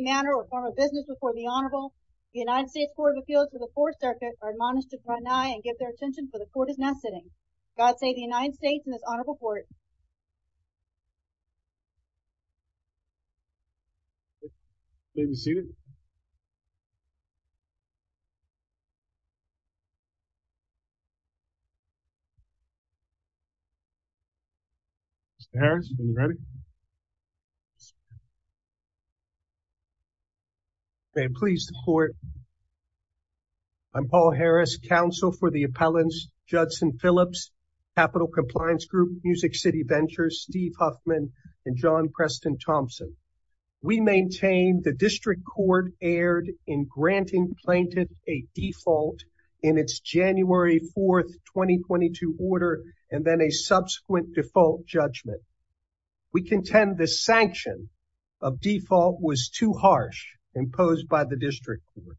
manner or form of business before the Honorable United States Court of Appeals for the Fourth Circuit are admonished to draw an eye and give their attention for the court is now sitting. God save the United States and this Honorable Court. Please be seated. Mr. Harris, are you ready? May it please the court. I'm Paul Harris, counsel for the appellants Judson Phillips, Capital Compliance Group, Music City Ventures, Steve Huffman and John Preston Thompson. We maintain the district court erred in granting plaintiff a default in its January 4, 2022 order and then a subsequent default judgment. We contend the sanction of default was too harsh imposed by the district court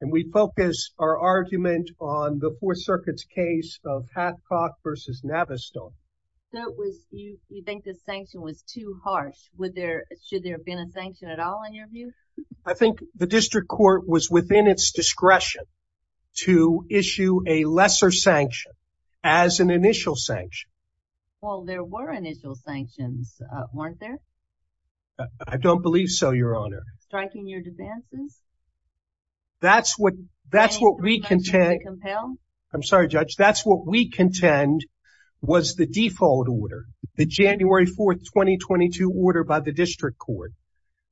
and we focus our argument on the Fourth Circuit's case of Hathcock versus Navistar. So it was you you think the sanction was too harsh? Would there, should there have been a sanction at all in your view? I think the district court was within its discretion to issue a lesser sanction as an initial sanction. Well there were initial sanctions, weren't there? I don't believe so, your honor. Striking your defenses? That's what, that's what we contend, I'm sorry judge, that's what we contend was the default order. The January 4, 2022 order by the district court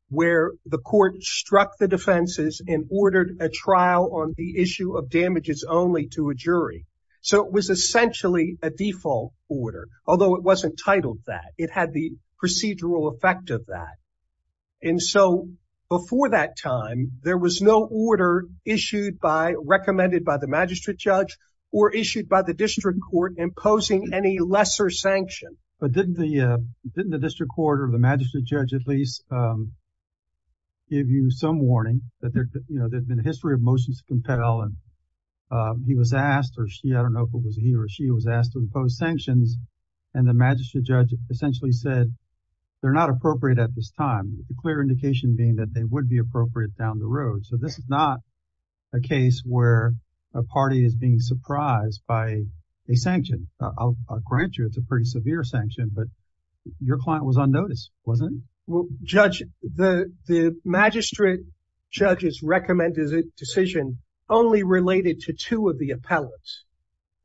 where the court struck the defenses and ordered a trial on the issue of damages only to a jury. So it was essentially a default order, although it wasn't titled that. It had the procedural effect of that and so before that time there was no order issued by, recommended by the magistrate judge or issued by the district court imposing any lesser sanction. But didn't the, didn't the district court or the magistrate judge at least give you some warning that there, you know, there's been a history of motions to compel and he was asked or she, I don't know if it was he or she, was asked to impose sanctions and the magistrate judge essentially said they're not appropriate at this time. The clear indication being that they would be appropriate down the road. So this is not a case where a party is being surprised by a sanction. I'll grant you it's a pretty severe sanction but your client was on notice, wasn't it? Well judge, the magistrate judge's recommended decision only related to two of the appellants,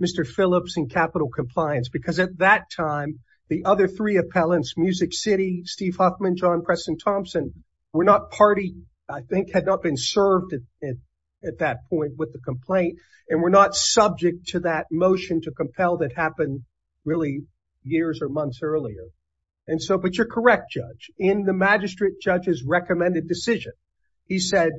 Mr. Phillips and Capital Compliance because at that time the other three appellants, Music City, Steve Huffman, John Preston Thompson, were not party, I think had not been served at that point with the complaint and were not subject to that motion to compel that happened really years or months earlier. And so, but you're correct judge, in the magistrate judge's recommended decision, he said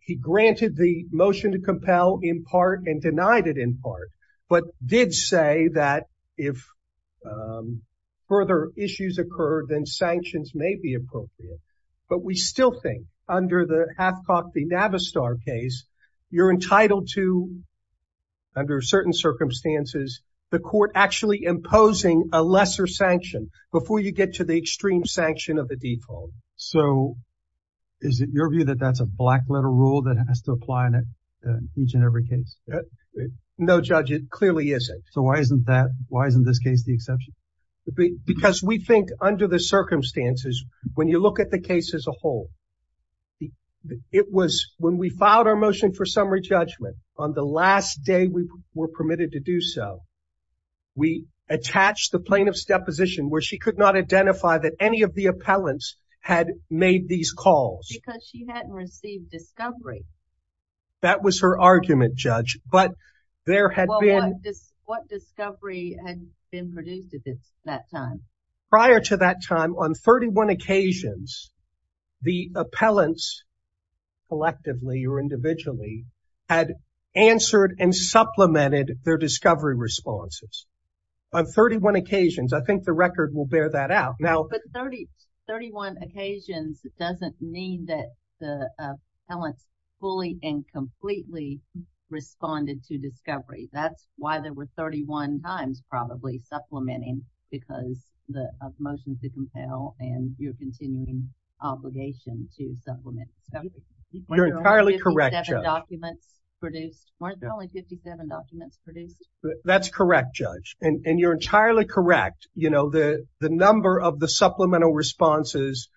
he granted the motion to compel in part and denied it in part but did say that if further issues occur then sanctions may be appropriate. But we still think under the Hathcock v. Navistar case you're entitled to under certain circumstances the court actually imposing a lesser sanction before you get to the extreme sanction of the default. So is it your view that that's a black letter rule that has to apply in each and every case? No judge, it clearly isn't. So why isn't that, why isn't this case the exception? Because we think under the circumstances, when you look at the case as a whole, it was when we filed our motion for summary judgment on the last day we were permitted to do so, we attached the plaintiff's deposition where she could not identify that any of the appellants had made these calls. Because she hadn't received discovery. That was her argument judge, but there had been. What discovery had been produced at this that time? Prior to that time on 31 occasions the appellants collectively or individually had answered and supplemented their discovery responses. On 31 occasions, I think the record will bear that out. 31 occasions doesn't mean that the appellants fully and completely responded to discovery. That's why there were 31 times probably supplementing because of the motion to compel and your continuing obligation to supplement discovery. You're entirely correct judge. Weren't there only 57 documents produced? That's correct judge and you're entirely correct. You know the the number of the supplemental responses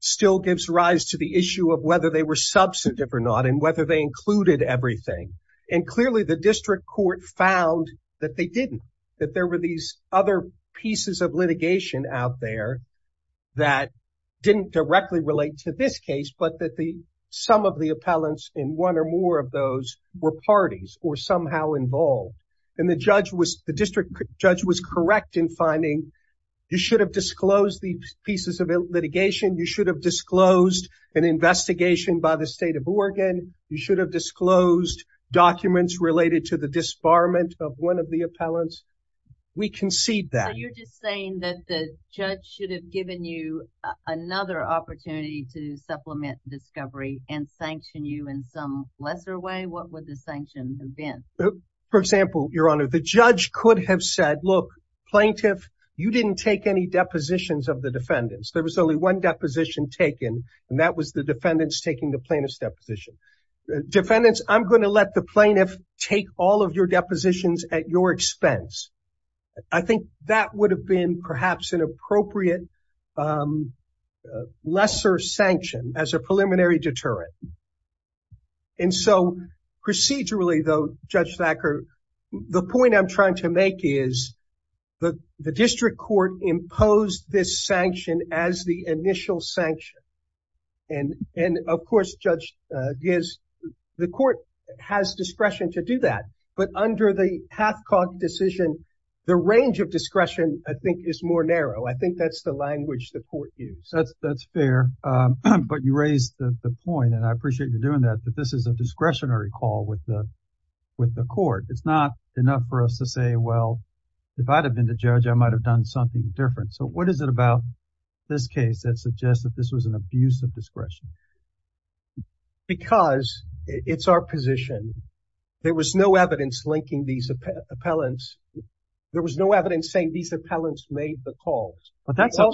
still gives rise to the issue of whether they were substantive or not and whether they included everything. And clearly the district court found that they didn't. That there were these other pieces of litigation out there that didn't directly relate to this case but that the some of the appellants in one or more of were parties or somehow involved and the judge was the district judge was correct in finding you should have disclosed the pieces of litigation. You should have disclosed an investigation by the state of Oregon. You should have disclosed documents related to the disbarment of one of the appellants. We concede that. You're just saying that the judge should have given you another opportunity to supplement discovery and sanction you in some lesser way? What would the sanction have been? For example your honor the judge could have said look plaintiff you didn't take any depositions of the defendants. There was only one deposition taken and that was the defendants taking the plaintiff's deposition. Defendants I'm going to let the plaintiff take all of your depositions at your expense. I think that would have been perhaps an appropriate lesser sanction as a preliminary deterrent. And so procedurally though Judge Thacker the point I'm trying to make is that the district court imposed this sanction as the initial sanction and of course Judge Giz the court has discretion to do that but under the Hathcock decision the range of discretion I think is more language the court used. That's fair but you raised the point and I appreciate you doing that that this is a discretionary call with the with the court. It's not enough for us to say well if I'd have been the judge I might have done something different. So what is it about this case that suggests that this was an abuse of discretion? Because it's our position. There was no evidence linking these appellants. There was no evidence saying these appellants made the calls. But that's a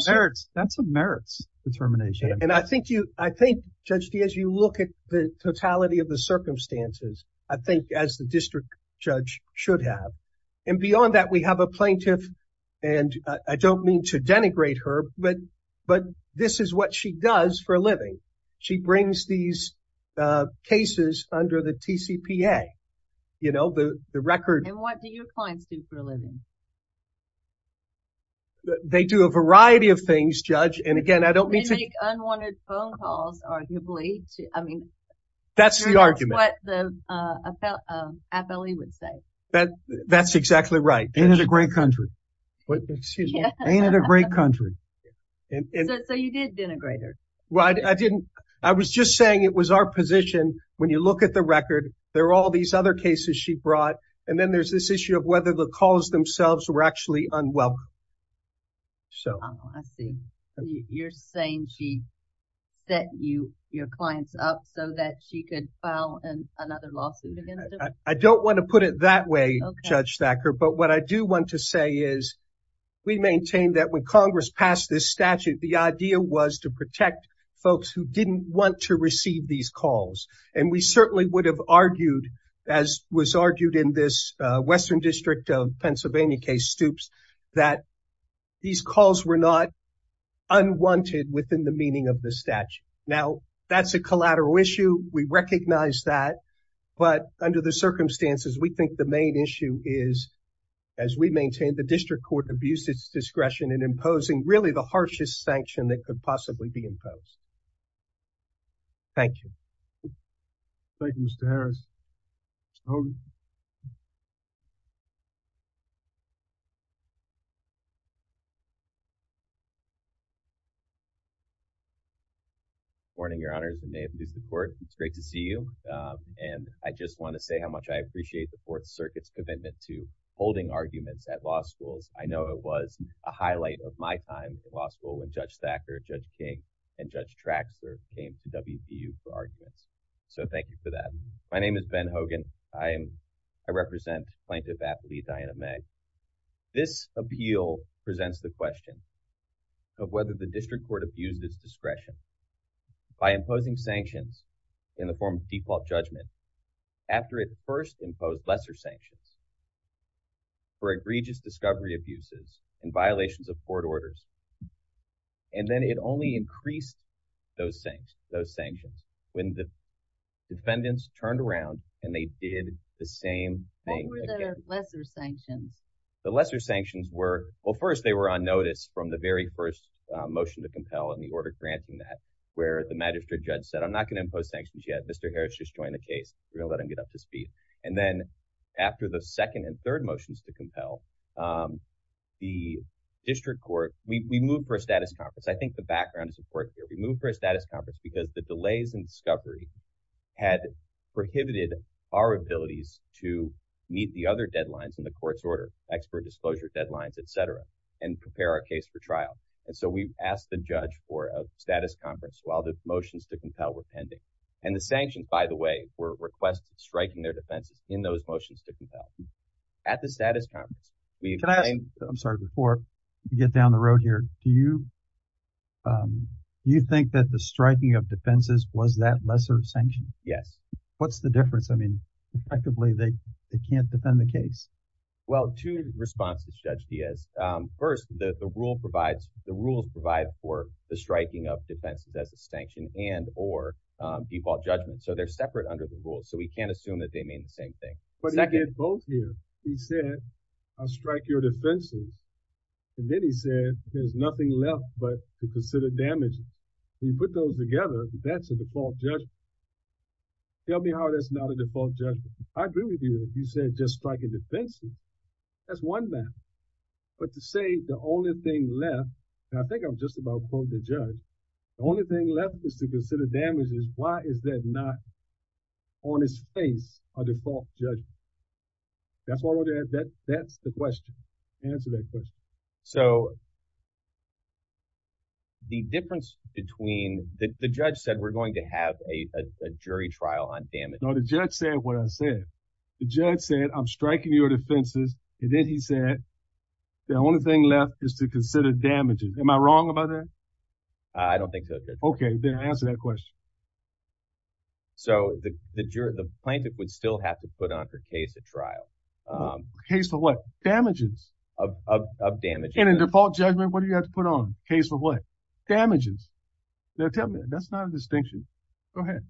merits determination. And I think you I think Judge Diaz you look at the totality of the circumstances I think as the district judge should have. And beyond that we have a plaintiff and I don't mean to denigrate her but this is what she does for a living. She brings these cases under the TCPA you know the the record. And what do your clients do for a living? They do a variety of things judge. And again I don't mean to make unwanted phone calls arguably. I mean that's the argument. That's what the appellee would say. That that's exactly right. Ain't it a great country. Excuse me. Ain't it a great country. So you did denigrate her. Well I didn't. I was just saying it was our position when you look at the record there are all these other cases she brought and then there's this issue of whether the calls themselves were actually unwelcome. So I see. You're saying she set you your clients up so that she could file another lawsuit against them? I don't want to put it that way Judge Thacker. But what I do want to say is we maintain that when Congress passed this statute the idea was to protect folks who didn't want to receive these calls. And we certainly would have Western District of Pennsylvania case Stoops that these calls were not unwanted within the meaning of the statute. Now that's a collateral issue. We recognize that. But under the circumstances we think the main issue is as we maintain the district court abuses discretion in imposing really the harshest sanction that could possibly be imposed. Thank you. Thank you Mr. Harris. Good morning your honors and may it please the court. It's great to see you. And I just want to say how much I appreciate the fourth circuit's commitment to holding arguments at law schools. I know it was a highlight of my time at law school when Judge Thacker, Judge King, and Judge Traxler came to WVU for arguments. So thank you for that. My name is Ben Hogan. I am I represent plaintiff athlete Diana Meg. This appeal presents the question of whether the district court abused its discretion by imposing sanctions in the form of default judgment after it first imposed lesser sanctions for egregious discovery abuses and violations of court orders. And then it only increased those things those sanctions when the defendants turned around and they did the same thing. What were the lesser sanctions? The lesser sanctions were well first they were on notice from the very first motion to compel and the order granting that where the magistrate judge said I'm not going to impose sanctions yet. Mr. Harris just joined the case. We're going to let him get up to speed. And then after the second and third motions to compel the district court we moved for a status conference. I think the background is important here. We moved for a status conference because the statute of limitations for egregious discovery had prohibited our abilities to meet the other deadlines in the court's order, expert disclosure deadlines, et cetera, and prepare our case for trial. And so we asked the judge for a status conference while the motions to compel were pending. And the sanctions, by the way, were requested striking their defenses in those motions to compel at the status conference. I'm sorry, before you get down the road here, do you think that the striking of defenses was that lesser sanction? Yes. What's the difference? I mean, effectively, they can't defend the case. Well, two responses, Judge Diaz. First, the rule provides for the striking of defenses as a sanction and or default judgment. So they're separate under the rules. So we can't assume that they strike your defenses. And then he said there's nothing left but to consider damage. When you put those together, that's a default judgment. Tell me how that's not a default judgment. I agree with you. You said just striking defenses. That's one matter. But to say the only thing left, and I think I'm just about to quote the judge, the only thing left is to consider damages. Why is that not on its face a default judgment? That's the question. Answer that question. So. The difference between the judge said we're going to have a jury trial on damage, the judge said what I said, the judge said, I'm striking your defenses, and then he said the only thing left is to consider damages. Am I wrong about that? I don't think so. OK, then answer that question. So the jury, the plaintiff would still have to put on her case at trial. A case of what? Damages. Of damage. And a default judgment, what do you have to put on? A case of what? Damages. Now tell me, that's not a distinction. Go ahead.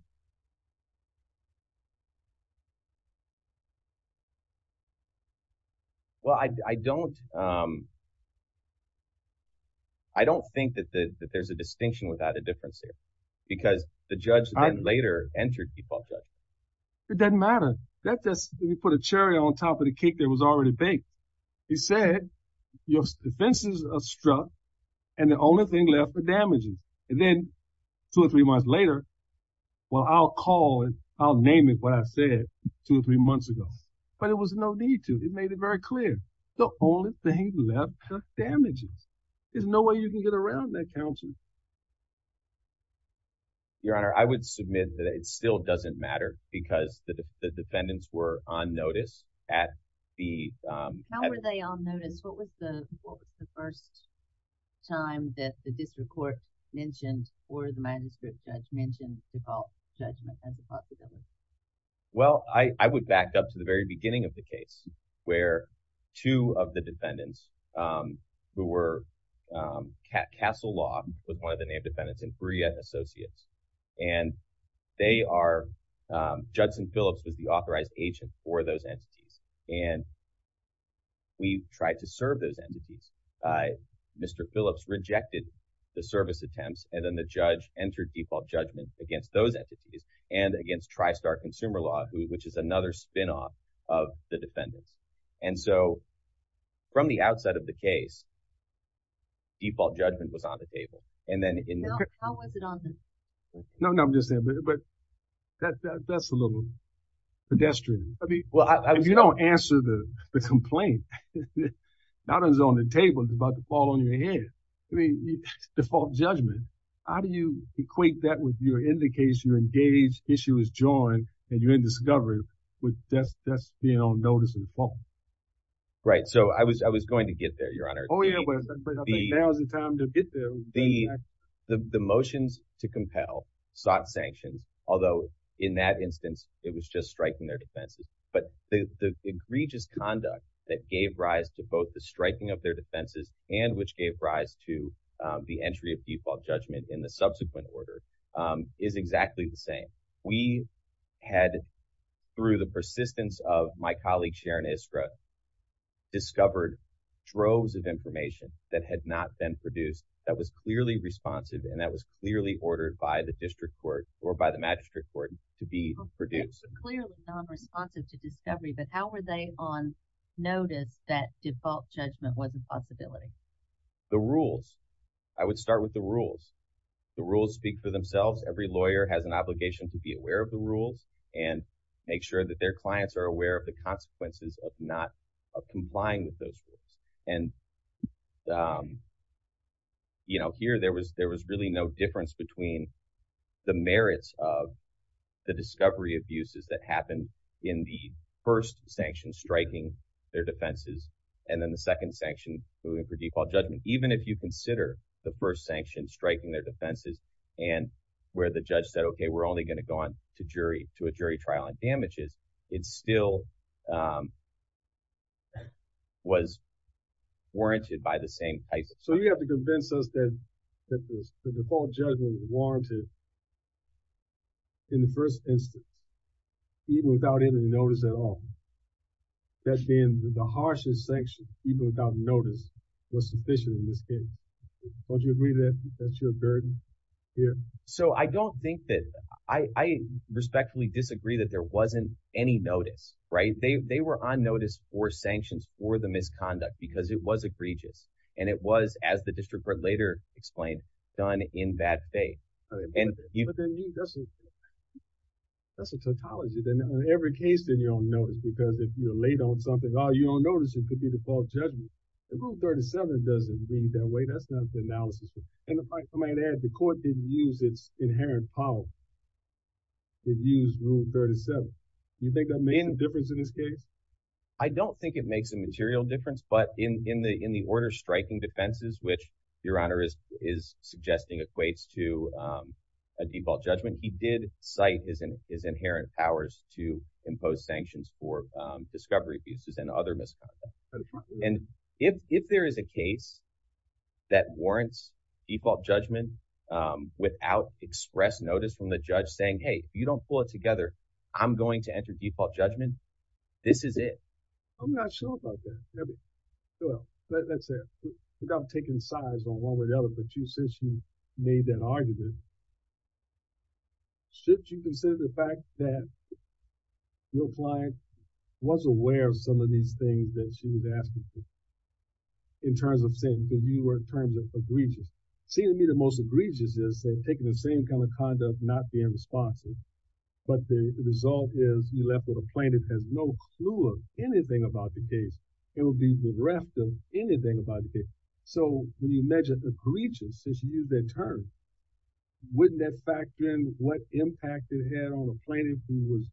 Well, I don't think that there's a distinction without a difference there. Because the judge then later entered into a case of a default judgment. It doesn't matter that this we put a cherry on top of the cake that was already baked. He said your defenses are struck and the only thing left for damages and then two or three months later. Well, I'll call it. I'll name it what I said two or three months ago, but it was no need to. It made it very clear the only thing left damages. There's no way you can get around that counsel. Your Honor, I would submit that it still doesn't matter because the defendants were on notice at the. How were they on notice? What was the first time that the district court mentioned or the manuscript judge mentioned default judgment as a possibility? Well, I would back up to the very beginning of the case where two of the defendants who were Castle Law with one of the name defendants and Brea Associates and they are Judson Phillips was the authorized agent for those entities and. We tried to serve those entities. Mr. Phillips rejected the service attempts and then the judge entered default judgment against those entities and against Tristar Consumer Law, which is another spinoff of the defendants. And so from the outside of the case, default judgment was on the table. And then how was it on this? No, no, I'm just saying, but that's a little pedestrian. I mean, well, if you don't answer the complaint, not as on the table about the fall on your head. I mean, default judgment. How do you equate that with your indication engaged issue is joined and you're in discovery with just being on notice of the fall. Right. So I was I was going to get there, your honor. Oh, yeah. But there wasn't time to get there. The the motions to compel sought sanctions, although in that instance it was just striking their defenses. But the egregious conduct that gave rise to both the striking of their defenses and which gave rise to the entry of default judgment in the subsequent order is exactly the we had through the persistence of my colleague Sharon Iskra discovered droves of information that had not been produced that was clearly responsive and that was clearly ordered by the district court or by the magistrate court to be produced. Clearly nonresponsive to discovery. But how were they on notice that default judgment was a possibility? The rules. I would start with the rules. The rules speak for themselves. Every lawyer has an obligation to be aware of the rules and make sure that their clients are aware of the consequences of not complying with those rules. And, you know, here there was there was really no difference between the merits of the discovery abuses that happened in the first sanction striking their defenses and then the second sanction for default judgment. Even if you consider the first sanction striking their defenses and where the judge said, OK, we're only going to go on to jury to a jury trial and damages, it still. Was. Warranted by the same. So you have to convince us that the default judgment warranted. In the first instance. Even without any notice at all. That's been the harshest sanction, even without notice was sufficient in this case. Don't you agree that that's your burden here? So I don't think that I respectfully disagree that there wasn't any notice. Right. They were on notice for sanctions for the misconduct because it was egregious and it was, as the district court later explained, done in bad faith. And that's. That's a tautology in every case that you don't notice, because if you're late on something or you don't notice, it could be the default judgment. The rule 37 doesn't mean that way. That's not the analysis. And if I might add, the court didn't use its inherent power. It used rule 37. You think that made a difference in this case? I don't think it makes a material difference, but in the in the order striking defenses, which your honor is is suggesting equates to a default judgment, he did cite his in his inherent powers to impose sanctions for discovery abuses and other misconduct. And if if there is a case that warrants default judgment without express notice from the judge saying, hey, you don't pull it together, I'm going to enter default judgment. This is it. I'm not sure about that. Well, let's say I'm taking sides on one way or the other, but you since you made that argument. Should you consider the fact that your client was aware of some of these things that she was asking for? In terms of saying that you were in terms of egregious, seem to me the most egregious is taking the same kind of conduct, not being responsive. But the result is you left with a plaintiff has no clue of anything about the case. It will be bereft of anything about the case. So when you measure egregious, you use that term. Wouldn't that factor in what impact it had on a plaintiff who was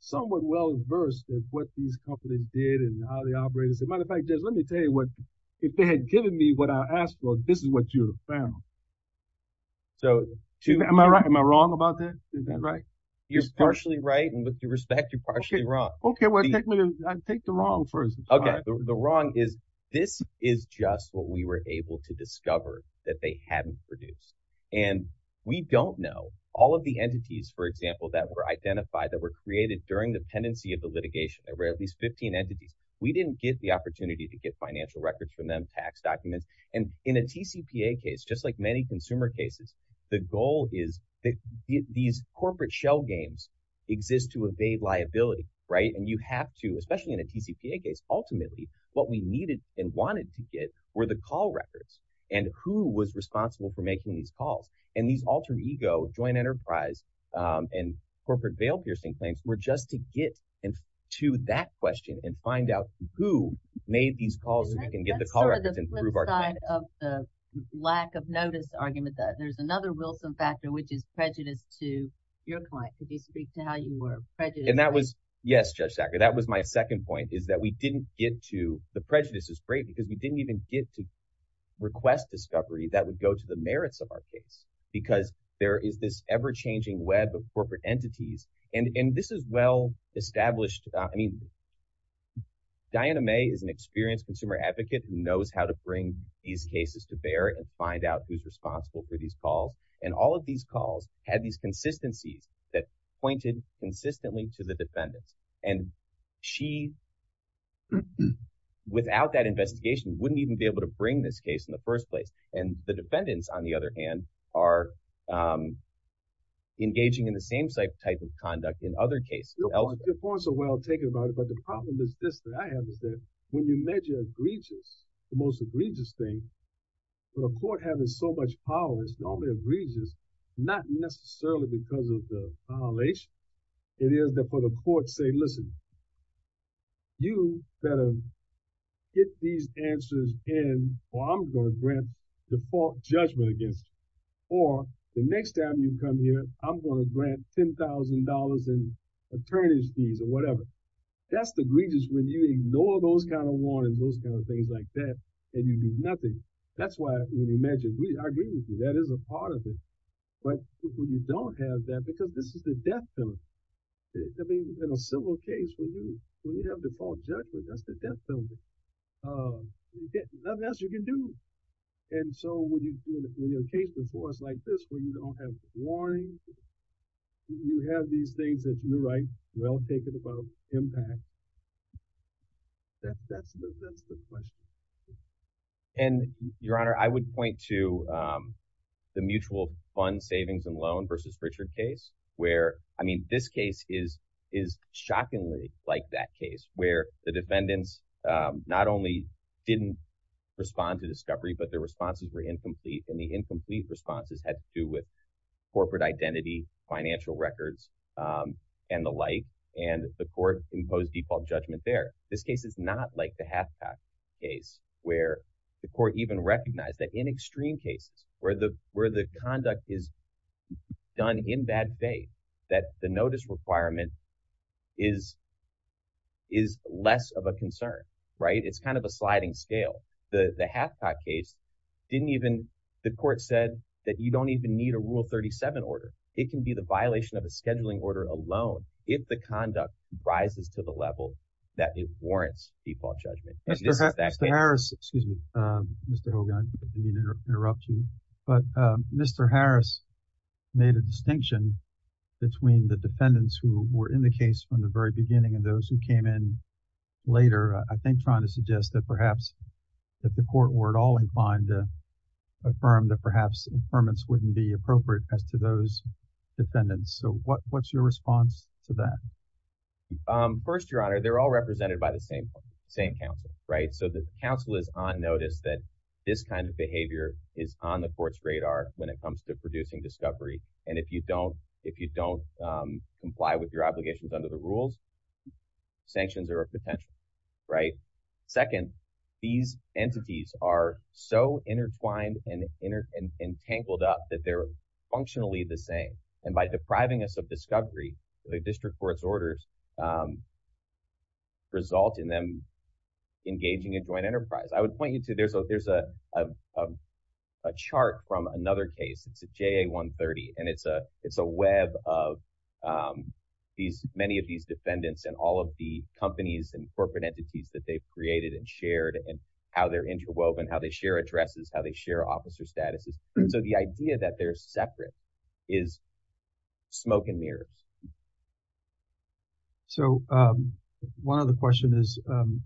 somewhat well-versed in what these companies did and how they operate? As a matter of fact, just let me tell you what, if they had given me what I asked for, this is what you found. So am I right? Am I wrong about that? Is that right? You're partially right. And with due respect, you're partially wrong. OK, well, I take the wrong first. The wrong is this is just what we were able to discover that they hadn't produced. And we don't know all of the entities, for example, that were identified, that were created during the tendency of the litigation. There were at least 15 entities. We didn't get the opportunity to get financial records from them, tax documents. And in a TCPA case, just like many consumer cases, the goal is that these corporate shell games exist to evade liability. Right. And you have to, especially in a TCPA case, ultimately, what we needed and wanted to get were the call records and who was responsible for making these calls. And these alter ego joint enterprise and corporate bail piercing claims were just to get to that question and find out who made these calls so we can get the call records and prove our claim. That's sort of the flip side of the lack of notice argument that there's another Wilson factor, which is prejudice to your client. Could you speak to how you were prejudiced? Yes. That was my second point is that we didn't get to the prejudice is great because we didn't even get to request discovery that would go to the merits of our case because there is this ever changing web of corporate entities. And this is well established. I mean, Diana May is an experienced consumer advocate who knows how to bring these cases to bear and find out who's responsible for these calls. And all of these calls had these consistencies that pointed consistently to the defendants. And she, without that investigation, wouldn't even be able to bring this case in the first place. And the defendants, on the other hand, are engaging in the same type of conduct in other cases. Your points are well taken about it, but the problem is this that I have is that when you measure egregious, the most egregious thing, but a court having so much power is normally egregious, not necessarily because of the violation. It is that for the court to say, listen, you better get these answers in or I'm going to grant default judgment against you. Or the next time you come here, I'm going to grant $10,000 in attorney's fees or whatever. That's the egregious when you ignore those kinds of warnings, those kinds of things like that, and you do nothing. That's why when you measure egregious, that is a part of it. But when you don't have that, because this is the death penalty. I mean, in a civil case, when you have default judgment, that's the death penalty. Nothing else you can do. And so when you're in a case before us like this, where you don't have warnings, you have these things that you're right, well taken about impact. That's that's the question. And Your Honor, I would point to the mutual fund savings and loan versus Richard case, where I mean, this case is, is shockingly like that case where the defendants not only didn't respond to discovery, but their responses were incomplete. And the incomplete responses had to corporate identity, financial records, and the like, and the court imposed default judgment there. This case is not like the half pack case, where the court even recognized that in extreme cases where the where the conduct is done in bad faith, that the notice requirement is, is less of a concern, right? It's kind of a sliding scale. The half pack case didn't even the court said that you don't even need a rule 37 order, it can be the violation of a scheduling order alone, if the conduct rises to the level that it warrants default judgment. Mr. Harris, excuse me, Mr. Hogan, I didn't mean to interrupt you. But Mr. Harris made a distinction between the defendants who were in the case from the very beginning and those who came in later, I think trying to suggest that perhaps that the court were at all inclined to affirm that perhaps impairments wouldn't be appropriate as to those defendants. So what's your response to that? First, Your Honor, they're all represented by the same, same counsel, right? So the counsel is on notice that this kind of behavior is on the court's radar when it comes to producing discovery. And if you don't, if you don't comply with your obligations under the rules, sanctions are a potential, right? Second, these entities are so intertwined and entangled up that they're functionally the same. And by depriving us of discovery, the district court's orders result in them engaging a joint enterprise, I would point you to there's a chart from another case. It's a JA-130. And it's a web of these many of these defendants and all of the companies and corporate entities that they've created and shared and how they're interwoven, how they share addresses, how they share officer statuses. So the idea that they're separate is smoke and mirrors. So one other question is the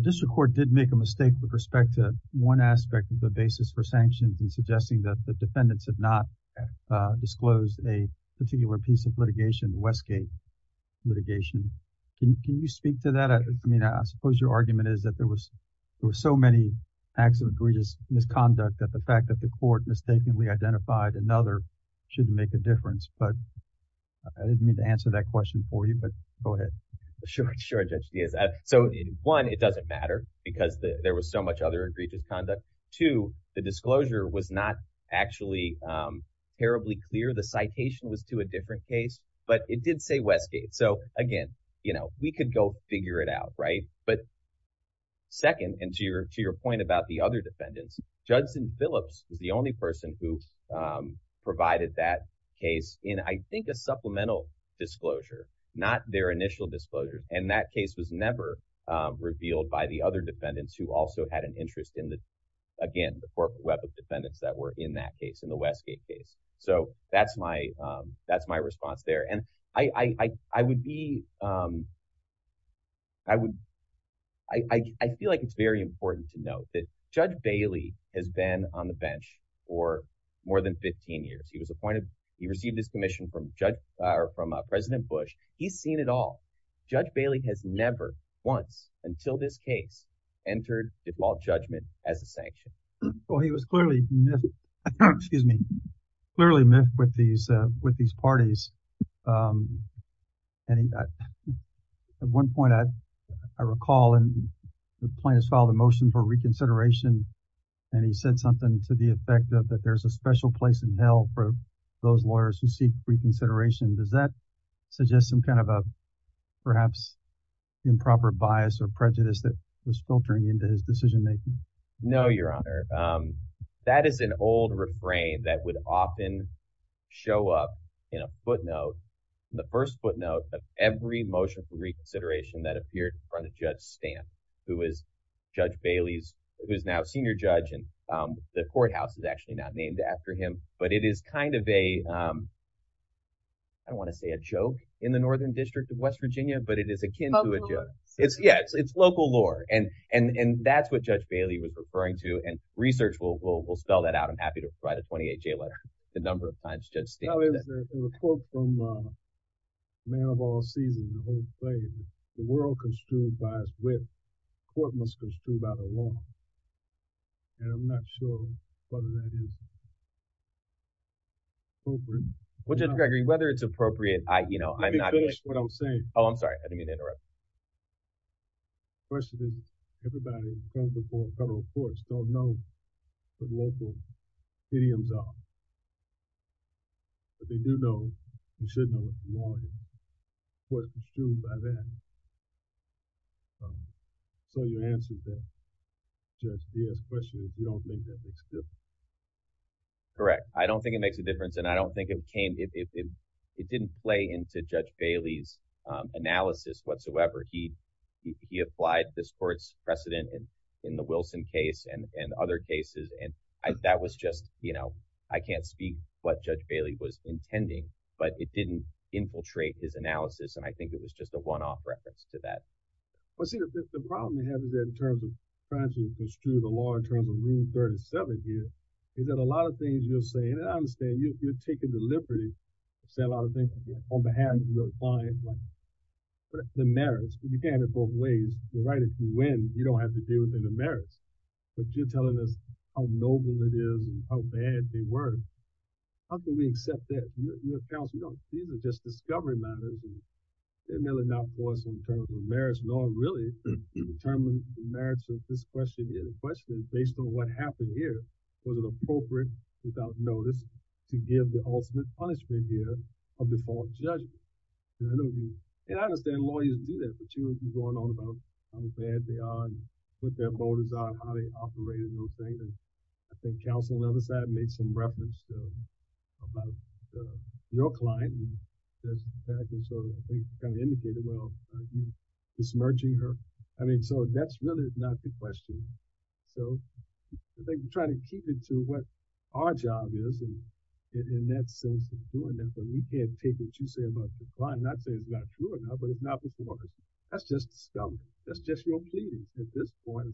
district court did make a mistake with respect to one aspect of the basis for sanctions in suggesting that the defendants have not disclosed a particular piece of litigation, Westgate litigation. Can you speak to that? I mean, I suppose your argument is that there was there were so many acts of egregious misconduct that the fact that the court mistakenly identified another shouldn't make a difference. But I didn't mean to answer that question for you, but go ahead. Sure, Judge Diaz. So one, it doesn't matter because there was so much other egregious conduct. Two, the disclosure was not actually terribly clear. The citation was to a different case, but it did say Westgate. So again, we could go figure it out. But second, and to your point about the other defendants, Judson Phillips is the only person who provided that case in, I think, a supplemental disclosure, not their initial disclosure. And that case was never revealed by the other defendants who also had an interest in the, again, the corporate web of defendants that were in that case, in the Westgate case. So that's my response there. And I feel like it's very important to note that Judge Bailey has been on the bench for more than 15 years. He was appointed, he received his commission from President Bush. He's seen it all. Judge Bailey has never once, until this case, entered default judgment as a sanction. Well, he was clearly miffed, excuse me, clearly miffed with these parties. And at one point, I recall, and the plaintiffs filed a motion for reconsideration, and he said something to the effect of that there's a special place in hell for those lawyers who seek reconsideration. Does that suggest some kind of a perhaps improper bias or prejudice that was filtering into his decision-making? No, Your Honor. That is an old refrain that would often show up in a footnote, the first footnote of every motion for reconsideration that appeared in front of Judge Stamp, who is Judge Bailey's, who is now a senior judge, and the courthouse is actually not named after him. But it is kind of a, I don't want to say a joke in the Northern District of West Virginia, but it is akin to a joke. Local lore. Yes, it's local lore. And that's what Judge Bailey was referring to, and research will spell that out. I'm happy to write a 28-J letter the number of times Judge Stamp has said it. No, it was a quote from a man of all seasons, the whole play. The world construed by its width, court must construe by the law. And I'm not sure whether that is appropriate. Well, Judge Gregory, whether it's appropriate, I, you know, I'm not. You can finish what I'm saying. Oh, I'm sorry. I didn't mean to interrupt. The question is, everybody in front of the federal courts don't know what local idioms are. But they do know, and should know, what the law is, what is construed by that. So your answer to Judge Bailey's question is, you don't think that makes a difference? Correct. I don't think it makes a difference, and I don't think it came, it didn't play into Judge Bailey's analysis whatsoever. He applied this court's precedent in the Wilson case and other cases. And that was just, you know, I can't speak what Judge Bailey was intending, but it didn't infiltrate his analysis. And I think it was just a one-off reference to that. Well, see, the problem we have is that in terms of trying to construe the law in terms of Rule 37 here, is that a lot of things you're saying, and I understand you're taking the liberty to say a lot of things on behalf of your client. But the merits, you can't in both ways. You're dealing with the merits. But you're telling us how noble it is and how bad they were. How can we accept that? These are just discovery matters. They're really not for us in terms of merits, nor really to determine the merits of this question here. The question is based on what happened here. Was it appropriate, without notice, to give the ultimate punishment here of the false judge? And I understand lawyers do that, but you're going on about how bad they are. What their motives are, how they operate, and those things. And I think counsel on the other side made some reference about your client, and Judge Patrick sort of, I think, kind of indicated, well, are you dismerging her? I mean, so that's really not the question. So I think we try to keep it to what our job is, and in that sense, doing that. But we can't take what you say about the client, not say it's not true or not, but it's not before us. That's just discovery. That's just your plea at this point.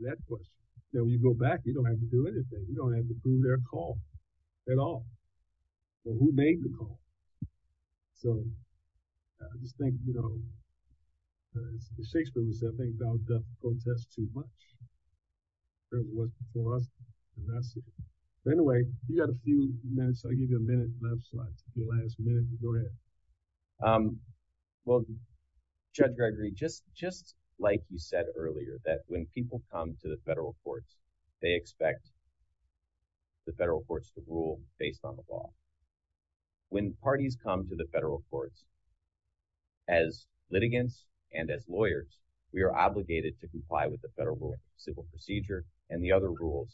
That question. Then when you go back, you don't have to do anything. You don't have to prove their call at all. Well, who made the call? So I just think, you know, the Shakespeareans, I think, doubt the protest too much. It wasn't for us, and that's it. But anyway, you got a few minutes. I'll give you a minute, your last minute. Go ahead. Well, Judge Gregory, just like you said earlier, that when people come to the federal courts, they expect the federal courts to rule based on the law. When parties come to the federal courts as litigants and as lawyers, we are obligated to comply with the rules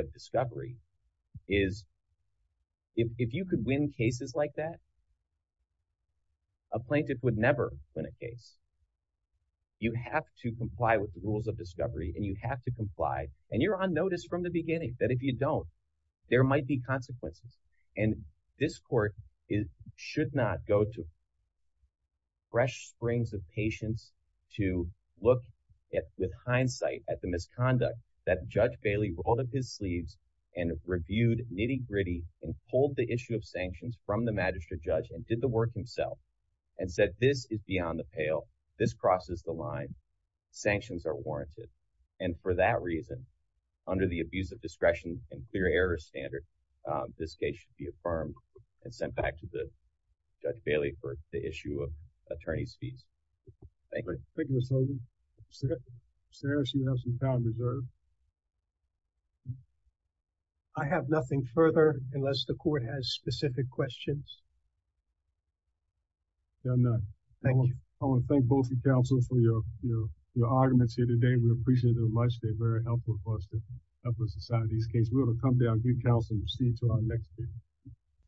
of discovery. If you could win cases like that, a plaintiff would never win a case. You have to comply with the rules of discovery, and you have to comply, and you're on notice from the beginning that if you don't, there might be consequences. And this court should not go to fresh springs of patience to look with hindsight at the misconduct that Judge Bailey rolled up his sleeves and reviewed nitty-gritty and pulled the issue of sanctions from the magistrate judge and did the work himself and said, this is beyond the pale. This crosses the line. Sanctions are warranted. And for that reason, under the abuse of discretion and clear error standard, this case should be affirmed and sent back to Judge Bailey for the issue of attorney's fees. Thank you. Thank you, Mr. Logan. Sarah, she has some time reserved. I have nothing further unless the court has specific questions. Yeah, I'm done. Thank you. I want to thank both of you, counsel, for your arguments here today. We appreciate it very much. They're very helpful for us to help us decide these cases. We're going to come down to you, counsel, and proceed to our next case.